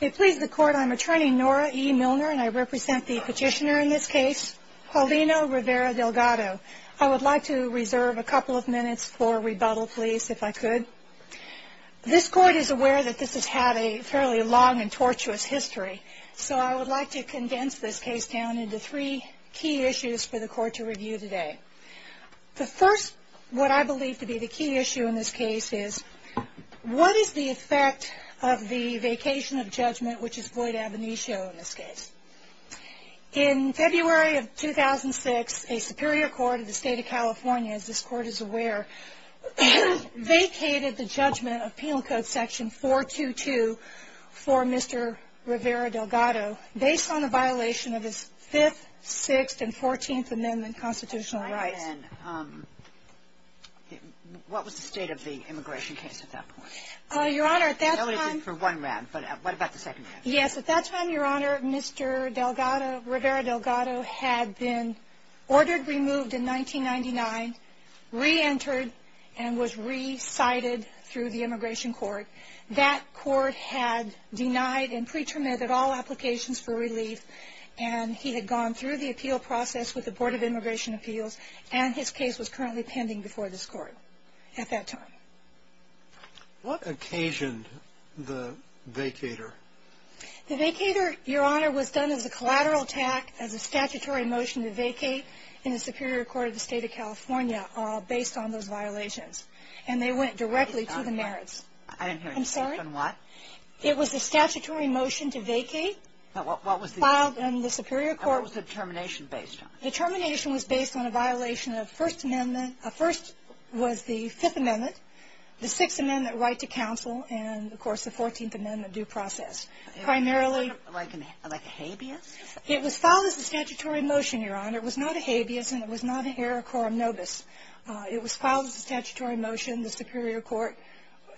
I'm attorney Nora E. Milner and I represent the petitioner in this case, Paulino Rivera-Delgado. I would like to reserve a couple of minutes for rebuttal, please, if I could. This court is aware that this has had a fairly long and tortuous history, so I would like to condense this case down into three key issues for the court to review today. The first, what I believe to be the key issue in this case is what is the effect of the vacation of judgment, which is void ab initio in this case? In February of 2006, a superior court of the state of California, as this court is aware, vacated the judgment of Penal Code Section 422 for Mr. Rivera-Delgado based on a violation of his Fifth, Sixth, and Fourteenth Amendment constitutional rights. And what was the state of the immigration case at that point? Your Honor, at that time... I'll leave it for one round, but what about the second round? Yes, at that time, Your Honor, Mr. Delgado, Rivera-Delgado, had been ordered removed in 1999, re-entered and was re-cited through the immigration court. That court had denied and pre-terminated all applications for relief and he had gone through the appeal process with the Board of Immigration Appeals and his case was currently pending before this court at that time. What occasioned the vacator? The vacator, Your Honor, was done as a collateral attack, as a statutory motion to vacate in the superior court of the state of California based on those violations. And they went directly to the merits. I didn't hear a question. I'm sorry? What? It was a statutory motion to vacate... What was the... Filed in the superior court... And what was the termination based on? The termination was based on a violation of First Amendment... First was the Fifth Amendment, the Sixth Amendment right to counsel, and, of course, the Fourteenth Amendment due process. Primarily... Like a habeas? It was filed as a statutory motion, Your Honor. It was not a habeas and it was not an error quorum nobis. It was filed as a statutory motion. The Superior Court,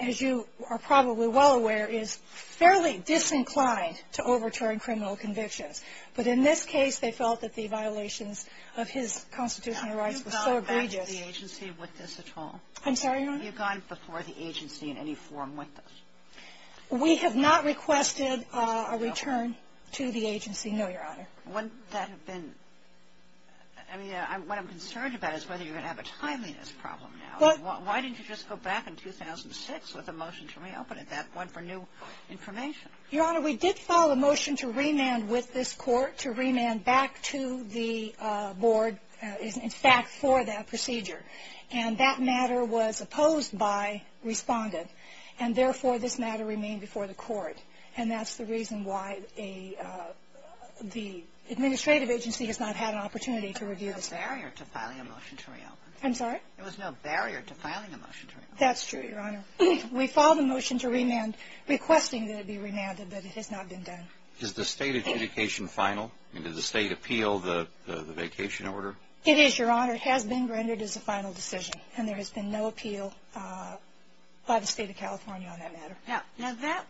as you are probably well aware, is fairly disinclined to overturn criminal convictions. But in this case, they felt that the violations of his constitutional rights were so egregious... Have you gone back to the agency with this at all? I'm sorry, Your Honor? Have you gone before the agency in any form with this? We have not requested a return to the agency, no, Your Honor. Wouldn't that have been – I mean, what I'm concerned about is whether you're going to have a timeliness problem now. Why didn't you just go back in 2006 with a motion to reopen at that point for new information? Your Honor, we did file a motion to remand with this Court, to remand back to the board, in fact, for that procedure. And that matter was opposed by Respondent. And, therefore, this matter remained before the Court. And that's the reason why the administrative agency has not had an opportunity to review this matter. There was no barrier to filing a motion to reopen. I'm sorry? There was no barrier to filing a motion to reopen. That's true, Your Honor. We filed a motion to remand requesting that it be remanded, but it has not been done. Is the State adjudication final? And did the State appeal the vacation order? It is, Your Honor. It has been rendered as a final decision. And there has been no appeal by the State of California on that matter. Now, that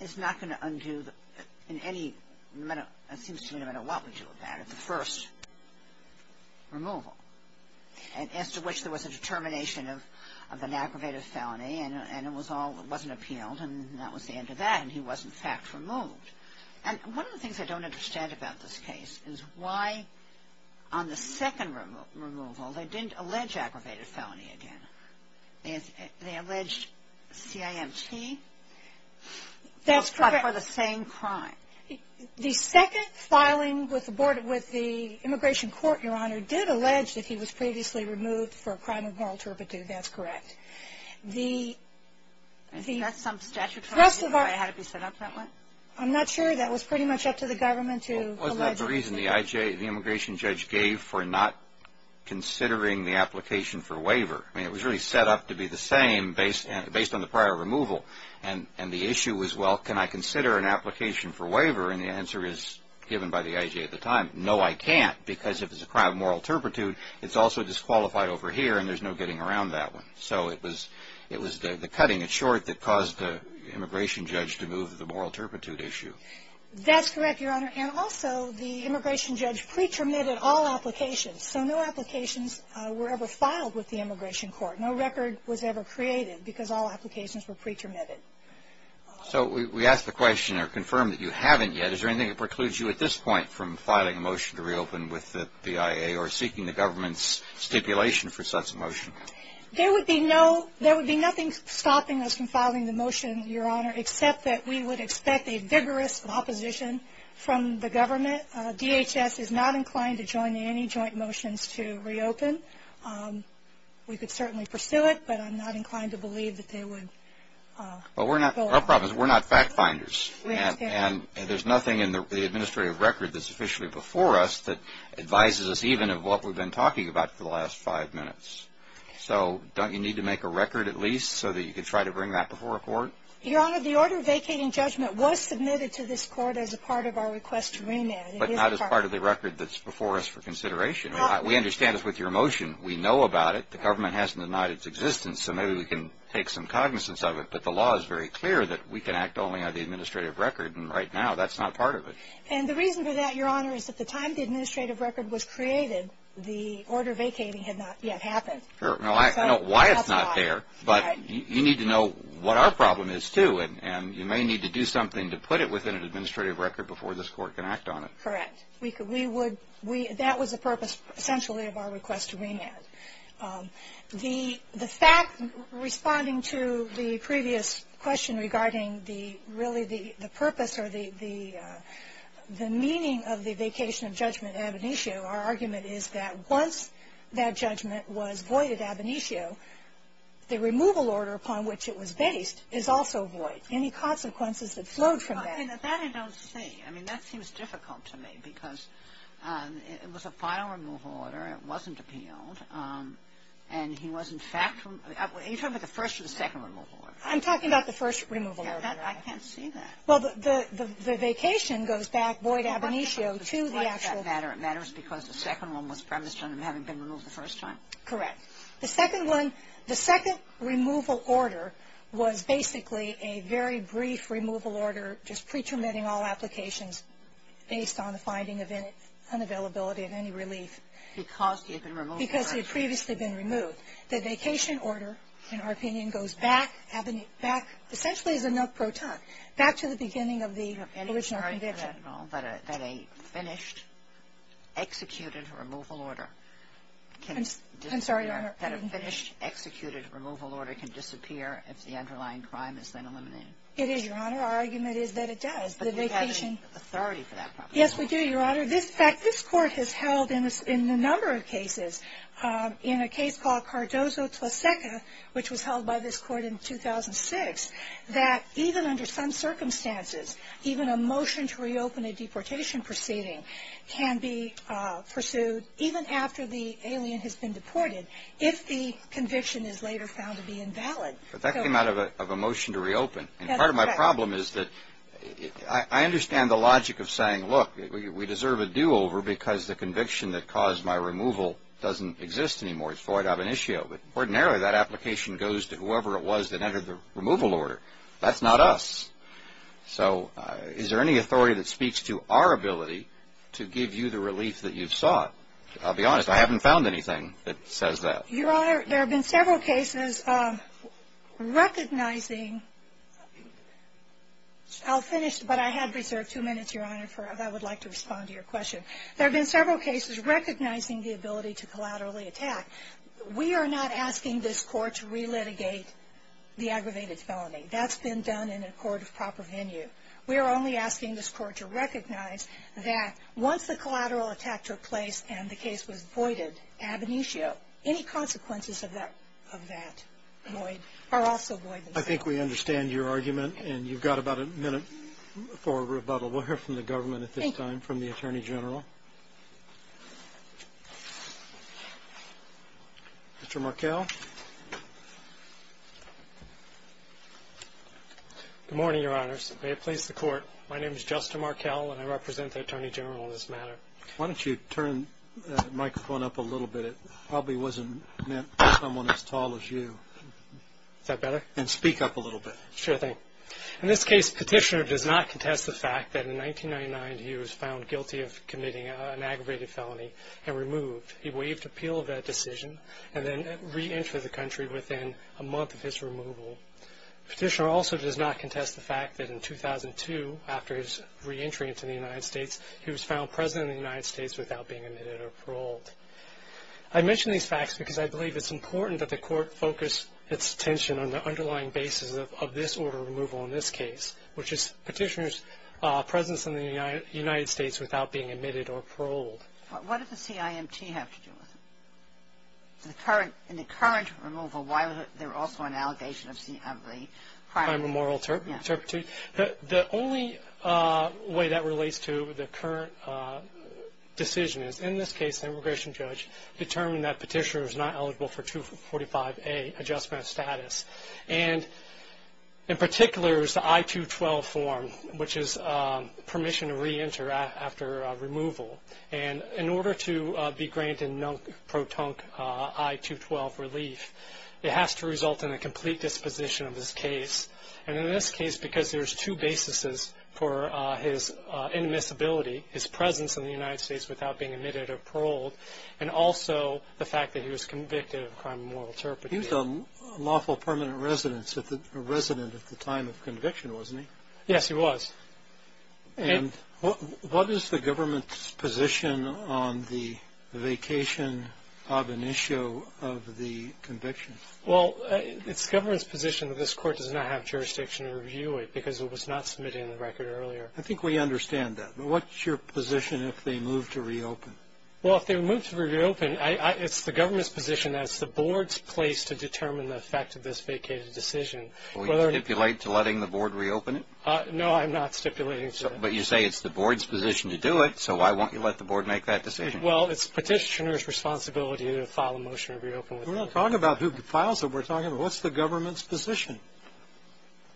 is not going to undo in any – it seems to me no matter what we do with that. The first removal, as to which there was a determination of an aggravated felony, and it was all – it wasn't appealed, and that was the end of that, and he was, in fact, removed. And one of the things I don't understand about this case is why, on the second removal, they didn't allege aggravated felony again. They alleged CIMT. That's correct. But for the same crime. The second filing with the Immigration Court, Your Honor, did allege that he was previously removed for a crime of moral turpitude. That's correct. I think that's some statutory reason why it had to be set up that way. I'm not sure. That was pretty much up to the government to allege. Well, wasn't that the reason the immigration judge gave for not considering the application for waiver? I mean, it was really set up to be the same based on the prior removal. And the issue was, well, can I consider an application for waiver? And the answer is, given by the IJ at the time, no, I can't, because if it's a crime of moral turpitude, it's also disqualified over here, and there's no getting around that one. So it was the cutting it short that caused the immigration judge to move the moral turpitude issue. That's correct, Your Honor. And also, the immigration judge pre-terminated all applications. So no applications were ever filed with the Immigration Court. No record was ever created because all applications were pre-terminated. So we ask the question or confirm that you haven't yet. Is there anything that precludes you at this point from filing a motion to reopen with the IA or seeking the government's stipulation for such a motion? There would be nothing stopping us from filing the motion, Your Honor, except that we would expect a vigorous opposition from the government. DHS is not inclined to join any joint motions to reopen. We could certainly pursue it, but I'm not inclined to believe that they would go on. Well, our problem is we're not fact finders. We understand. And there's nothing in the administrative record that's officially before us that advises us even of what we've been talking about for the last five minutes. So don't you need to make a record at least so that you can try to bring that before a court? Your Honor, the order vacating judgment was submitted to this court as a part of our request to remand. But not as part of the record that's before us for consideration. We understand it's with your motion. We know about it. The government hasn't denied its existence, so maybe we can take some cognizance of it. But the law is very clear that we can act only on the administrative record, and right now that's not part of it. And the reason for that, Your Honor, is at the time the administrative record was created, the order vacating had not yet happened. I know why it's not there, but you need to know what our problem is too, and you may need to do something to put it within an administrative record before this court can act on it. Correct. That was the purpose, essentially, of our request to remand. The fact, responding to the previous question regarding really the purpose or the meaning of the vacation of judgment in Ab initio, our argument is that once that judgment was void at Ab initio, the removal order upon which it was based is also void. Any consequences that flowed from that? That I don't see. I mean, that seems difficult to me because it was a final removal order. It wasn't appealed. And he was, in fact, you're talking about the first or the second removal order? I'm talking about the first removal order. I can't see that. Well, the vacation goes back, void Ab initio, to the actual order. Why does that matter? It matters because the second one was premised on him having been removed the first time? Correct. The second one, the second removal order, was basically a very brief removal order just pre-terminating all applications based on the finding of unavailability of any relief. Because he had been removed the first time. Because he had previously been removed. The vacation order, in our opinion, goes back, essentially as a no-pro time, back to the beginning of the original conviction. But a finished, executed removal order can disappear. I'm sorry, Your Honor. A finished, executed removal order can disappear if the underlying crime is then eliminated. It is, Your Honor. Our argument is that it does. But you have authority for that. Yes, we do, Your Honor. In fact, this Court has held in a number of cases, in a case called Cardozo-Tlaseka, which was held by this Court in 2006, that even under some circumstances, even a motion to reopen a deportation proceeding can be pursued, even after the alien has been deported, if the conviction is later found to be invalid. But that came out of a motion to reopen. And part of my problem is that I understand the logic of saying, look, we deserve a do-over because the conviction that caused my removal doesn't exist anymore. It's void of an issue. But ordinarily, that application goes to whoever it was that entered the removal order. That's not us. So is there any authority that speaks to our ability to give you the relief that you've sought? I'll be honest, I haven't found anything that says that. Your Honor, there have been several cases recognizing ‑‑ I'll finish, but I had reserved two minutes, Your Honor, if I would like to respond to your question. There have been several cases recognizing the ability to collaterally attack. We are not asking this Court to relitigate the aggravated felony. That's been done in a court of proper venue. We are only asking this Court to recognize that once the collateral attack took place and the case was voided, ab initio, any consequences of that void are also void. I think we understand your argument, and you've got about a minute for rebuttal. We'll hear from the government at this time, from the Attorney General. Mr. Markell? Good morning, Your Honors. May it please the Court, my name is Justin Markell, and I represent the Attorney General in this matter. Why don't you turn the microphone up a little bit? It probably wasn't meant for someone as tall as you. Is that better? And speak up a little bit. Sure thing. In this case, Petitioner does not contest the fact that in 1999, he was found guilty of committing an aggravated felony and removed. He waived appeal of that decision and then reentered the country within a month of his removal. Petitioner also does not contest the fact that in 2002, after his reentry into the United States, he was found President of the United States without being admitted or paroled. I mention these facts because I believe it's important that the Court focus its attention on the underlying basis of this order of removal in this case, which is Petitioner's presence in the United States without being admitted or paroled. What does the CIMT have to do with it? In the current removal, why was there also an allegation of the crime of moral turpitude? The only way that relates to the current decision is, in this case, the immigration judge determined that Petitioner was not eligible for 245A, Adjustment of Status. In particular, it was the I-212 form, which is permission to reenter after removal. In order to be granted a non-protonic I-212 relief, it has to result in a complete disposition of his case. In this case, because there's two basis for his inadmissibility, his presence in the United States without being admitted or paroled, and also the fact that he was convicted of a crime of moral turpitude. He was a lawful permanent resident at the time of conviction, wasn't he? Yes, he was. And what is the government's position on the vacation ab initio of the conviction? Well, it's the government's position that this Court does not have jurisdiction to review it because it was not submitted in the record earlier. I think we understand that. But what's your position if they move to reopen? Well, if they move to reopen, it's the government's position that it's the Board's place to determine the effect of this vacated decision. Will you stipulate to letting the Board reopen it? No, I'm not stipulating to that. But you say it's the Board's position to do it, so why won't you let the Board make that decision? Well, it's Petitioner's responsibility to file a motion to reopen. We're not talking about who files it. We're talking about what's the government's position?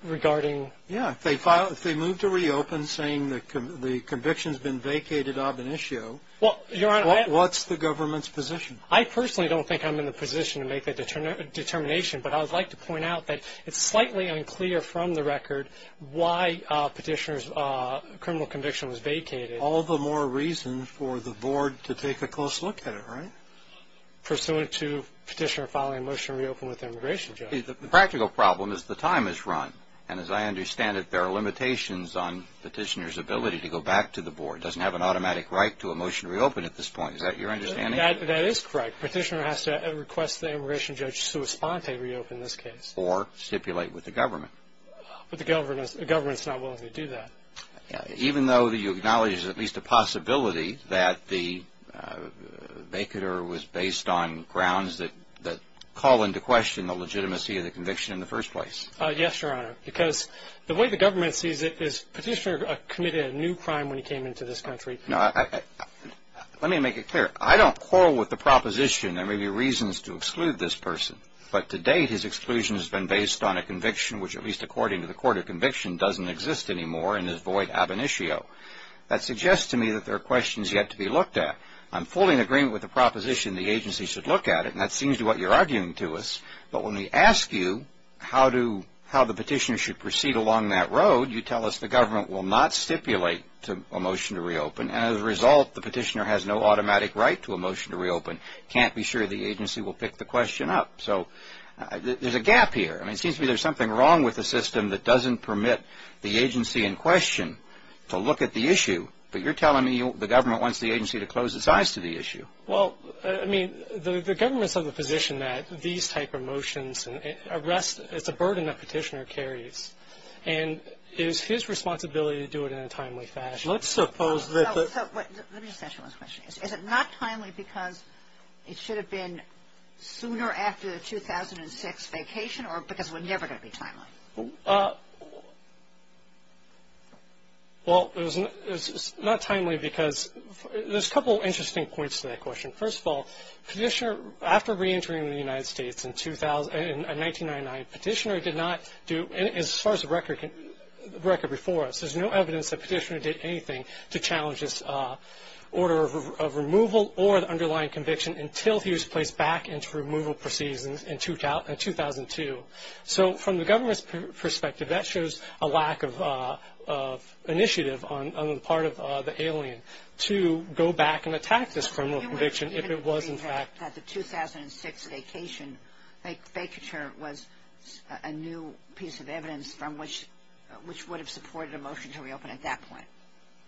Regarding? Yeah, if they move to reopen saying the conviction's been vacated ab initio, what's the government's position? I personally don't think I'm in the position to make that determination, but I would like to point out that it's slightly unclear from the record why Petitioner's criminal conviction was vacated. All the more reason for the Board to take a close look at it, right? Pursuant to Petitioner filing a motion to reopen with the immigration judge. The practical problem is the time is run, and as I understand it, there are limitations on Petitioner's ability to go back to the Board. It doesn't have an automatic right to a motion to reopen at this point. Is that your understanding? That is correct. Petitioner has to request the immigration judge to respond to reopen this case. Or stipulate with the government. But the government's not willing to do that. Even though you acknowledge there's at least a possibility that the vacater was based on grounds that call into question the legitimacy of the conviction in the first place. Yes, Your Honor. Because the way the government sees it is Petitioner committed a new crime when he came into this country. Let me make it clear. I don't quarrel with the proposition there may be reasons to exclude this person. But to date, his exclusion has been based on a conviction which, at least according to the court of conviction, doesn't exist anymore and is void ab initio. That suggests to me that there are questions yet to be looked at. I'm fully in agreement with the proposition the agency should look at it. And that seems to be what you're arguing to us. But when we ask you how the petitioner should proceed along that road, you tell us the government will not stipulate a motion to reopen. And as a result, the petitioner has no automatic right to a motion to reopen. Can't be sure the agency will pick the question up. So there's a gap here. It seems to me there's something wrong with the system that doesn't permit the agency in question to look at the issue. But you're telling me the government wants the agency to close its eyes to the issue. Well, I mean, the government's of the position that these type of motions and arrests, it's a burden that petitioner carries. And it is his responsibility to do it in a timely fashion. Let's suppose that the – Let me ask you one question. Is it not timely because it should have been sooner after the 2006 vacation or because it was never going to be timely? Well, it was not timely because there's a couple of interesting points to that question. First of all, petitioner – after reentering the United States in 1999, petitioner did not do – as far as the record before us, there's no evidence that petitioner did anything to challenge this order of removal or the underlying conviction until he was placed back into removal proceedings in 2002. So from the government's perspective, that shows a lack of initiative on the part of the alien to go back and attack this criminal conviction if it was in fact – So you would agree that the 2006 vacation, vacature was a new piece of evidence from which would have supported a motion to reopen at that point?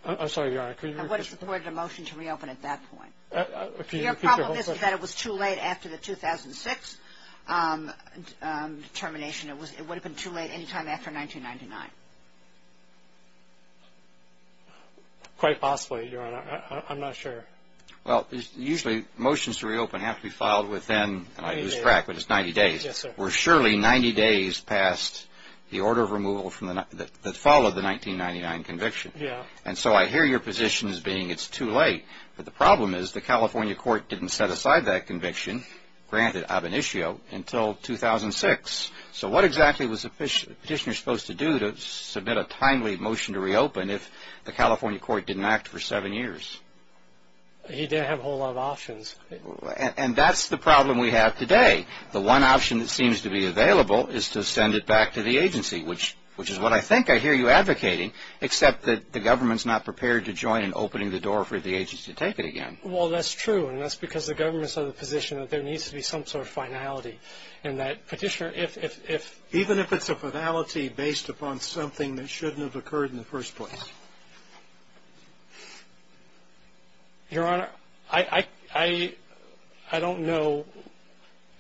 I'm sorry, Your Honor. I would have supported a motion to reopen at that point. Your problem is that it was too late after the 2006 termination. It would have been too late any time after 1999. Quite possibly, Your Honor. I'm not sure. Well, usually motions to reopen have to be filed within – and I lose track, but it's 90 days. Yes, sir. We're surely 90 days past the order of removal that followed the 1999 conviction. Yeah. And so I hear your position as being it's too late. But the problem is the California court didn't set aside that conviction, granted ab initio, until 2006. So what exactly was the petitioner supposed to do to submit a timely motion to reopen if the California court didn't act for seven years? He didn't have a whole lot of options. And that's the problem we have today. The one option that seems to be available is to send it back to the agency, which is what I think I hear you advocating, except that the government's not prepared to join in opening the door for the agency to take it again. Well, that's true. And that's because the government's of the position that there needs to be some sort of finality, and that petitioner, if – Even if it's a finality based upon something that shouldn't have occurred in the first place? Your Honor, I don't know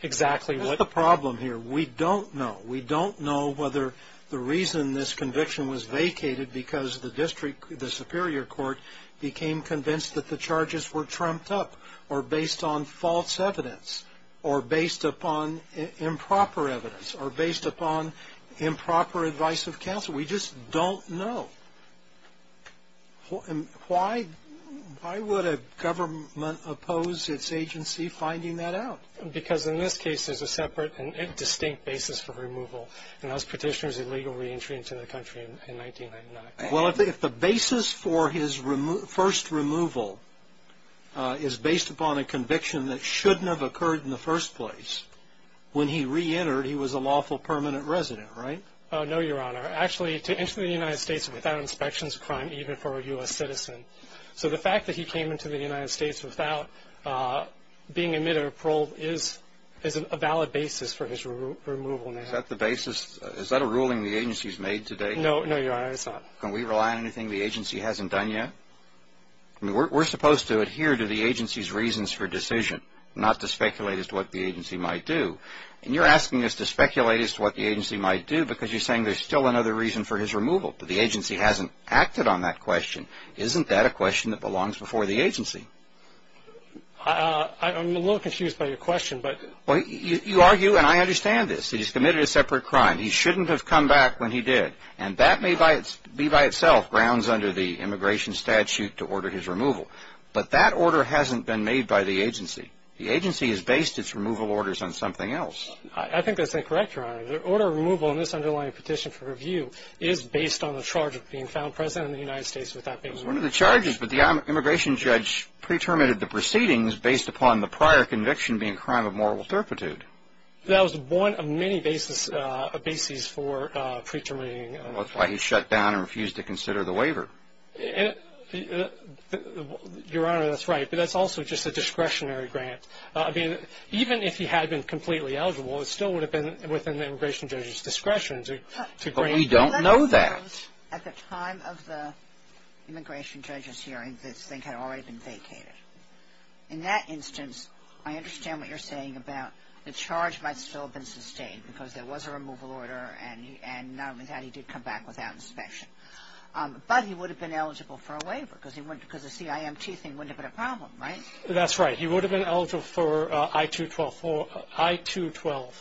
exactly what – That's the problem here. We don't know. We don't know whether the reason this conviction was vacated because the district – the superior court became convinced that the charges were trumped up or based on false evidence or based upon improper evidence or based upon improper advice of counsel. We just don't know. Why would a government oppose its agency finding that out? Because in this case, there's a separate and distinct basis for removal, and that was petitioner's illegal reentry into the country in 1999. Well, if the basis for his first removal is based upon a conviction that shouldn't have occurred in the first place, when he reentered, he was a lawful permanent resident, right? No, Your Honor. Actually, to enter the United States without inspection is a crime even for a U.S. citizen. So the fact that he came into the United States without being admitted or paroled is a valid basis for his removal now. Is that the basis? Is that a ruling the agency's made today? No, Your Honor, it's not. Can we rely on anything the agency hasn't done yet? We're supposed to adhere to the agency's reasons for decision, not to speculate as to what the agency might do. And you're asking us to speculate as to what the agency might do because you're saying there's still another reason for his removal, but the agency hasn't acted on that question. Isn't that a question that belongs before the agency? I'm a little confused by your question. You argue, and I understand this, that he's committed a separate crime. He shouldn't have come back when he did, and that may be by itself grounds under the immigration statute to order his removal. But that order hasn't been made by the agency. The agency has based its removal orders on something else. I think that's incorrect, Your Honor. The order of removal in this underlying petition for review is based on the charge of being found president of the United States without being removed. It was one of the charges, but the immigration judge pre-terminated the proceedings based upon the prior conviction being a crime of moral fertitude. That was one of many bases for pre-terminating. Well, that's why he shut down and refused to consider the waiver. Your Honor, that's right, but that's also just a discretionary grant. Even if he had been completely eligible, it still would have been within the immigration judge's discretion to grant that. We don't know that. At the time of the immigration judge's hearing, this thing had already been vacated. In that instance, I understand what you're saying about the charge might still have been sustained because there was a removal order, and not only that, he did come back without inspection. But he would have been eligible for a waiver because the CIMT thing wouldn't have been a problem, right? That's right. He would have been eligible for I-212.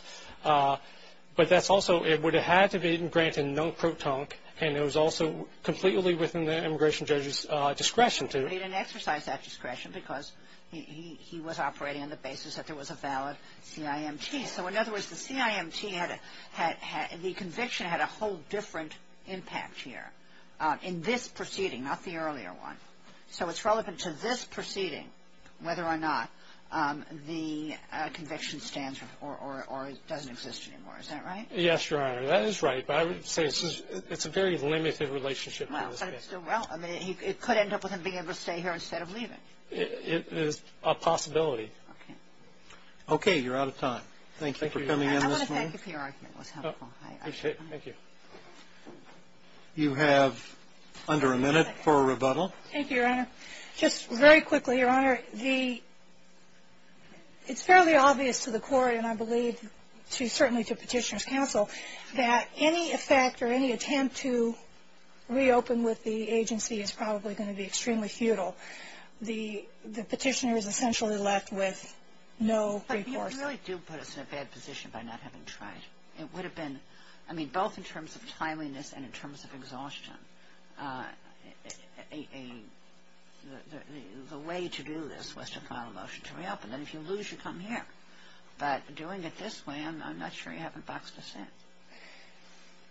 But that's also it would have had to be granted non-protonic, and it was also completely within the immigration judge's discretion to. But he didn't exercise that discretion because he was operating on the basis that there was a valid CIMT. So in other words, the CIMT had a whole different impact here in this proceeding, not the earlier one. So it's relevant to this proceeding whether or not the conviction stands or doesn't exist anymore. Is that right? Yes, Your Honor. That is right. But I would say it's a very limited relationship. Well, it could end up with him being able to stay here instead of leaving. It is a possibility. Okay. Okay. You're out of time. Thank you for coming in this morning. I want to thank you for your argument. It was helpful. I appreciate it. Thank you. You have under a minute for a rebuttal. Thank you, Your Honor. Just very quickly, Your Honor. It's fairly obvious to the court, and I believe certainly to Petitioner's counsel, that any effect or any attempt to reopen with the agency is probably going to be extremely futile. The Petitioner is essentially left with no recourse. But you really do put us in a bad position by not having tried. It would have been, I mean, both in terms of timeliness and in terms of exhaustion, the way to do this was to file a motion to reopen. And if you lose, you come here. But doing it this way, I'm not sure you haven't boxed us in.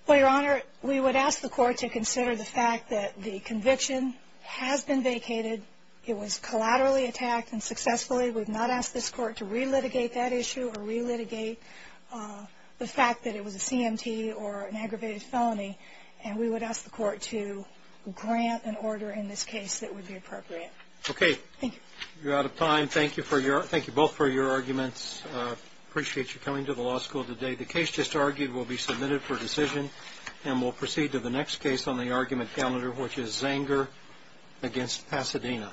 Well, Your Honor, we would ask the court to consider the fact that the conviction has been vacated. It was collaterally attacked and successfully. We would not ask this court to relitigate that issue or relitigate the fact that it was a CMT or an aggravated felony. And we would ask the court to grant an order in this case that would be appropriate. Okay. Thank you. You're out of time. Thank you both for your arguments. Appreciate you coming to the law school today. The case just argued will be submitted for decision. And we'll proceed to the next case on the argument calendar, which is Zanger v. Pasadena.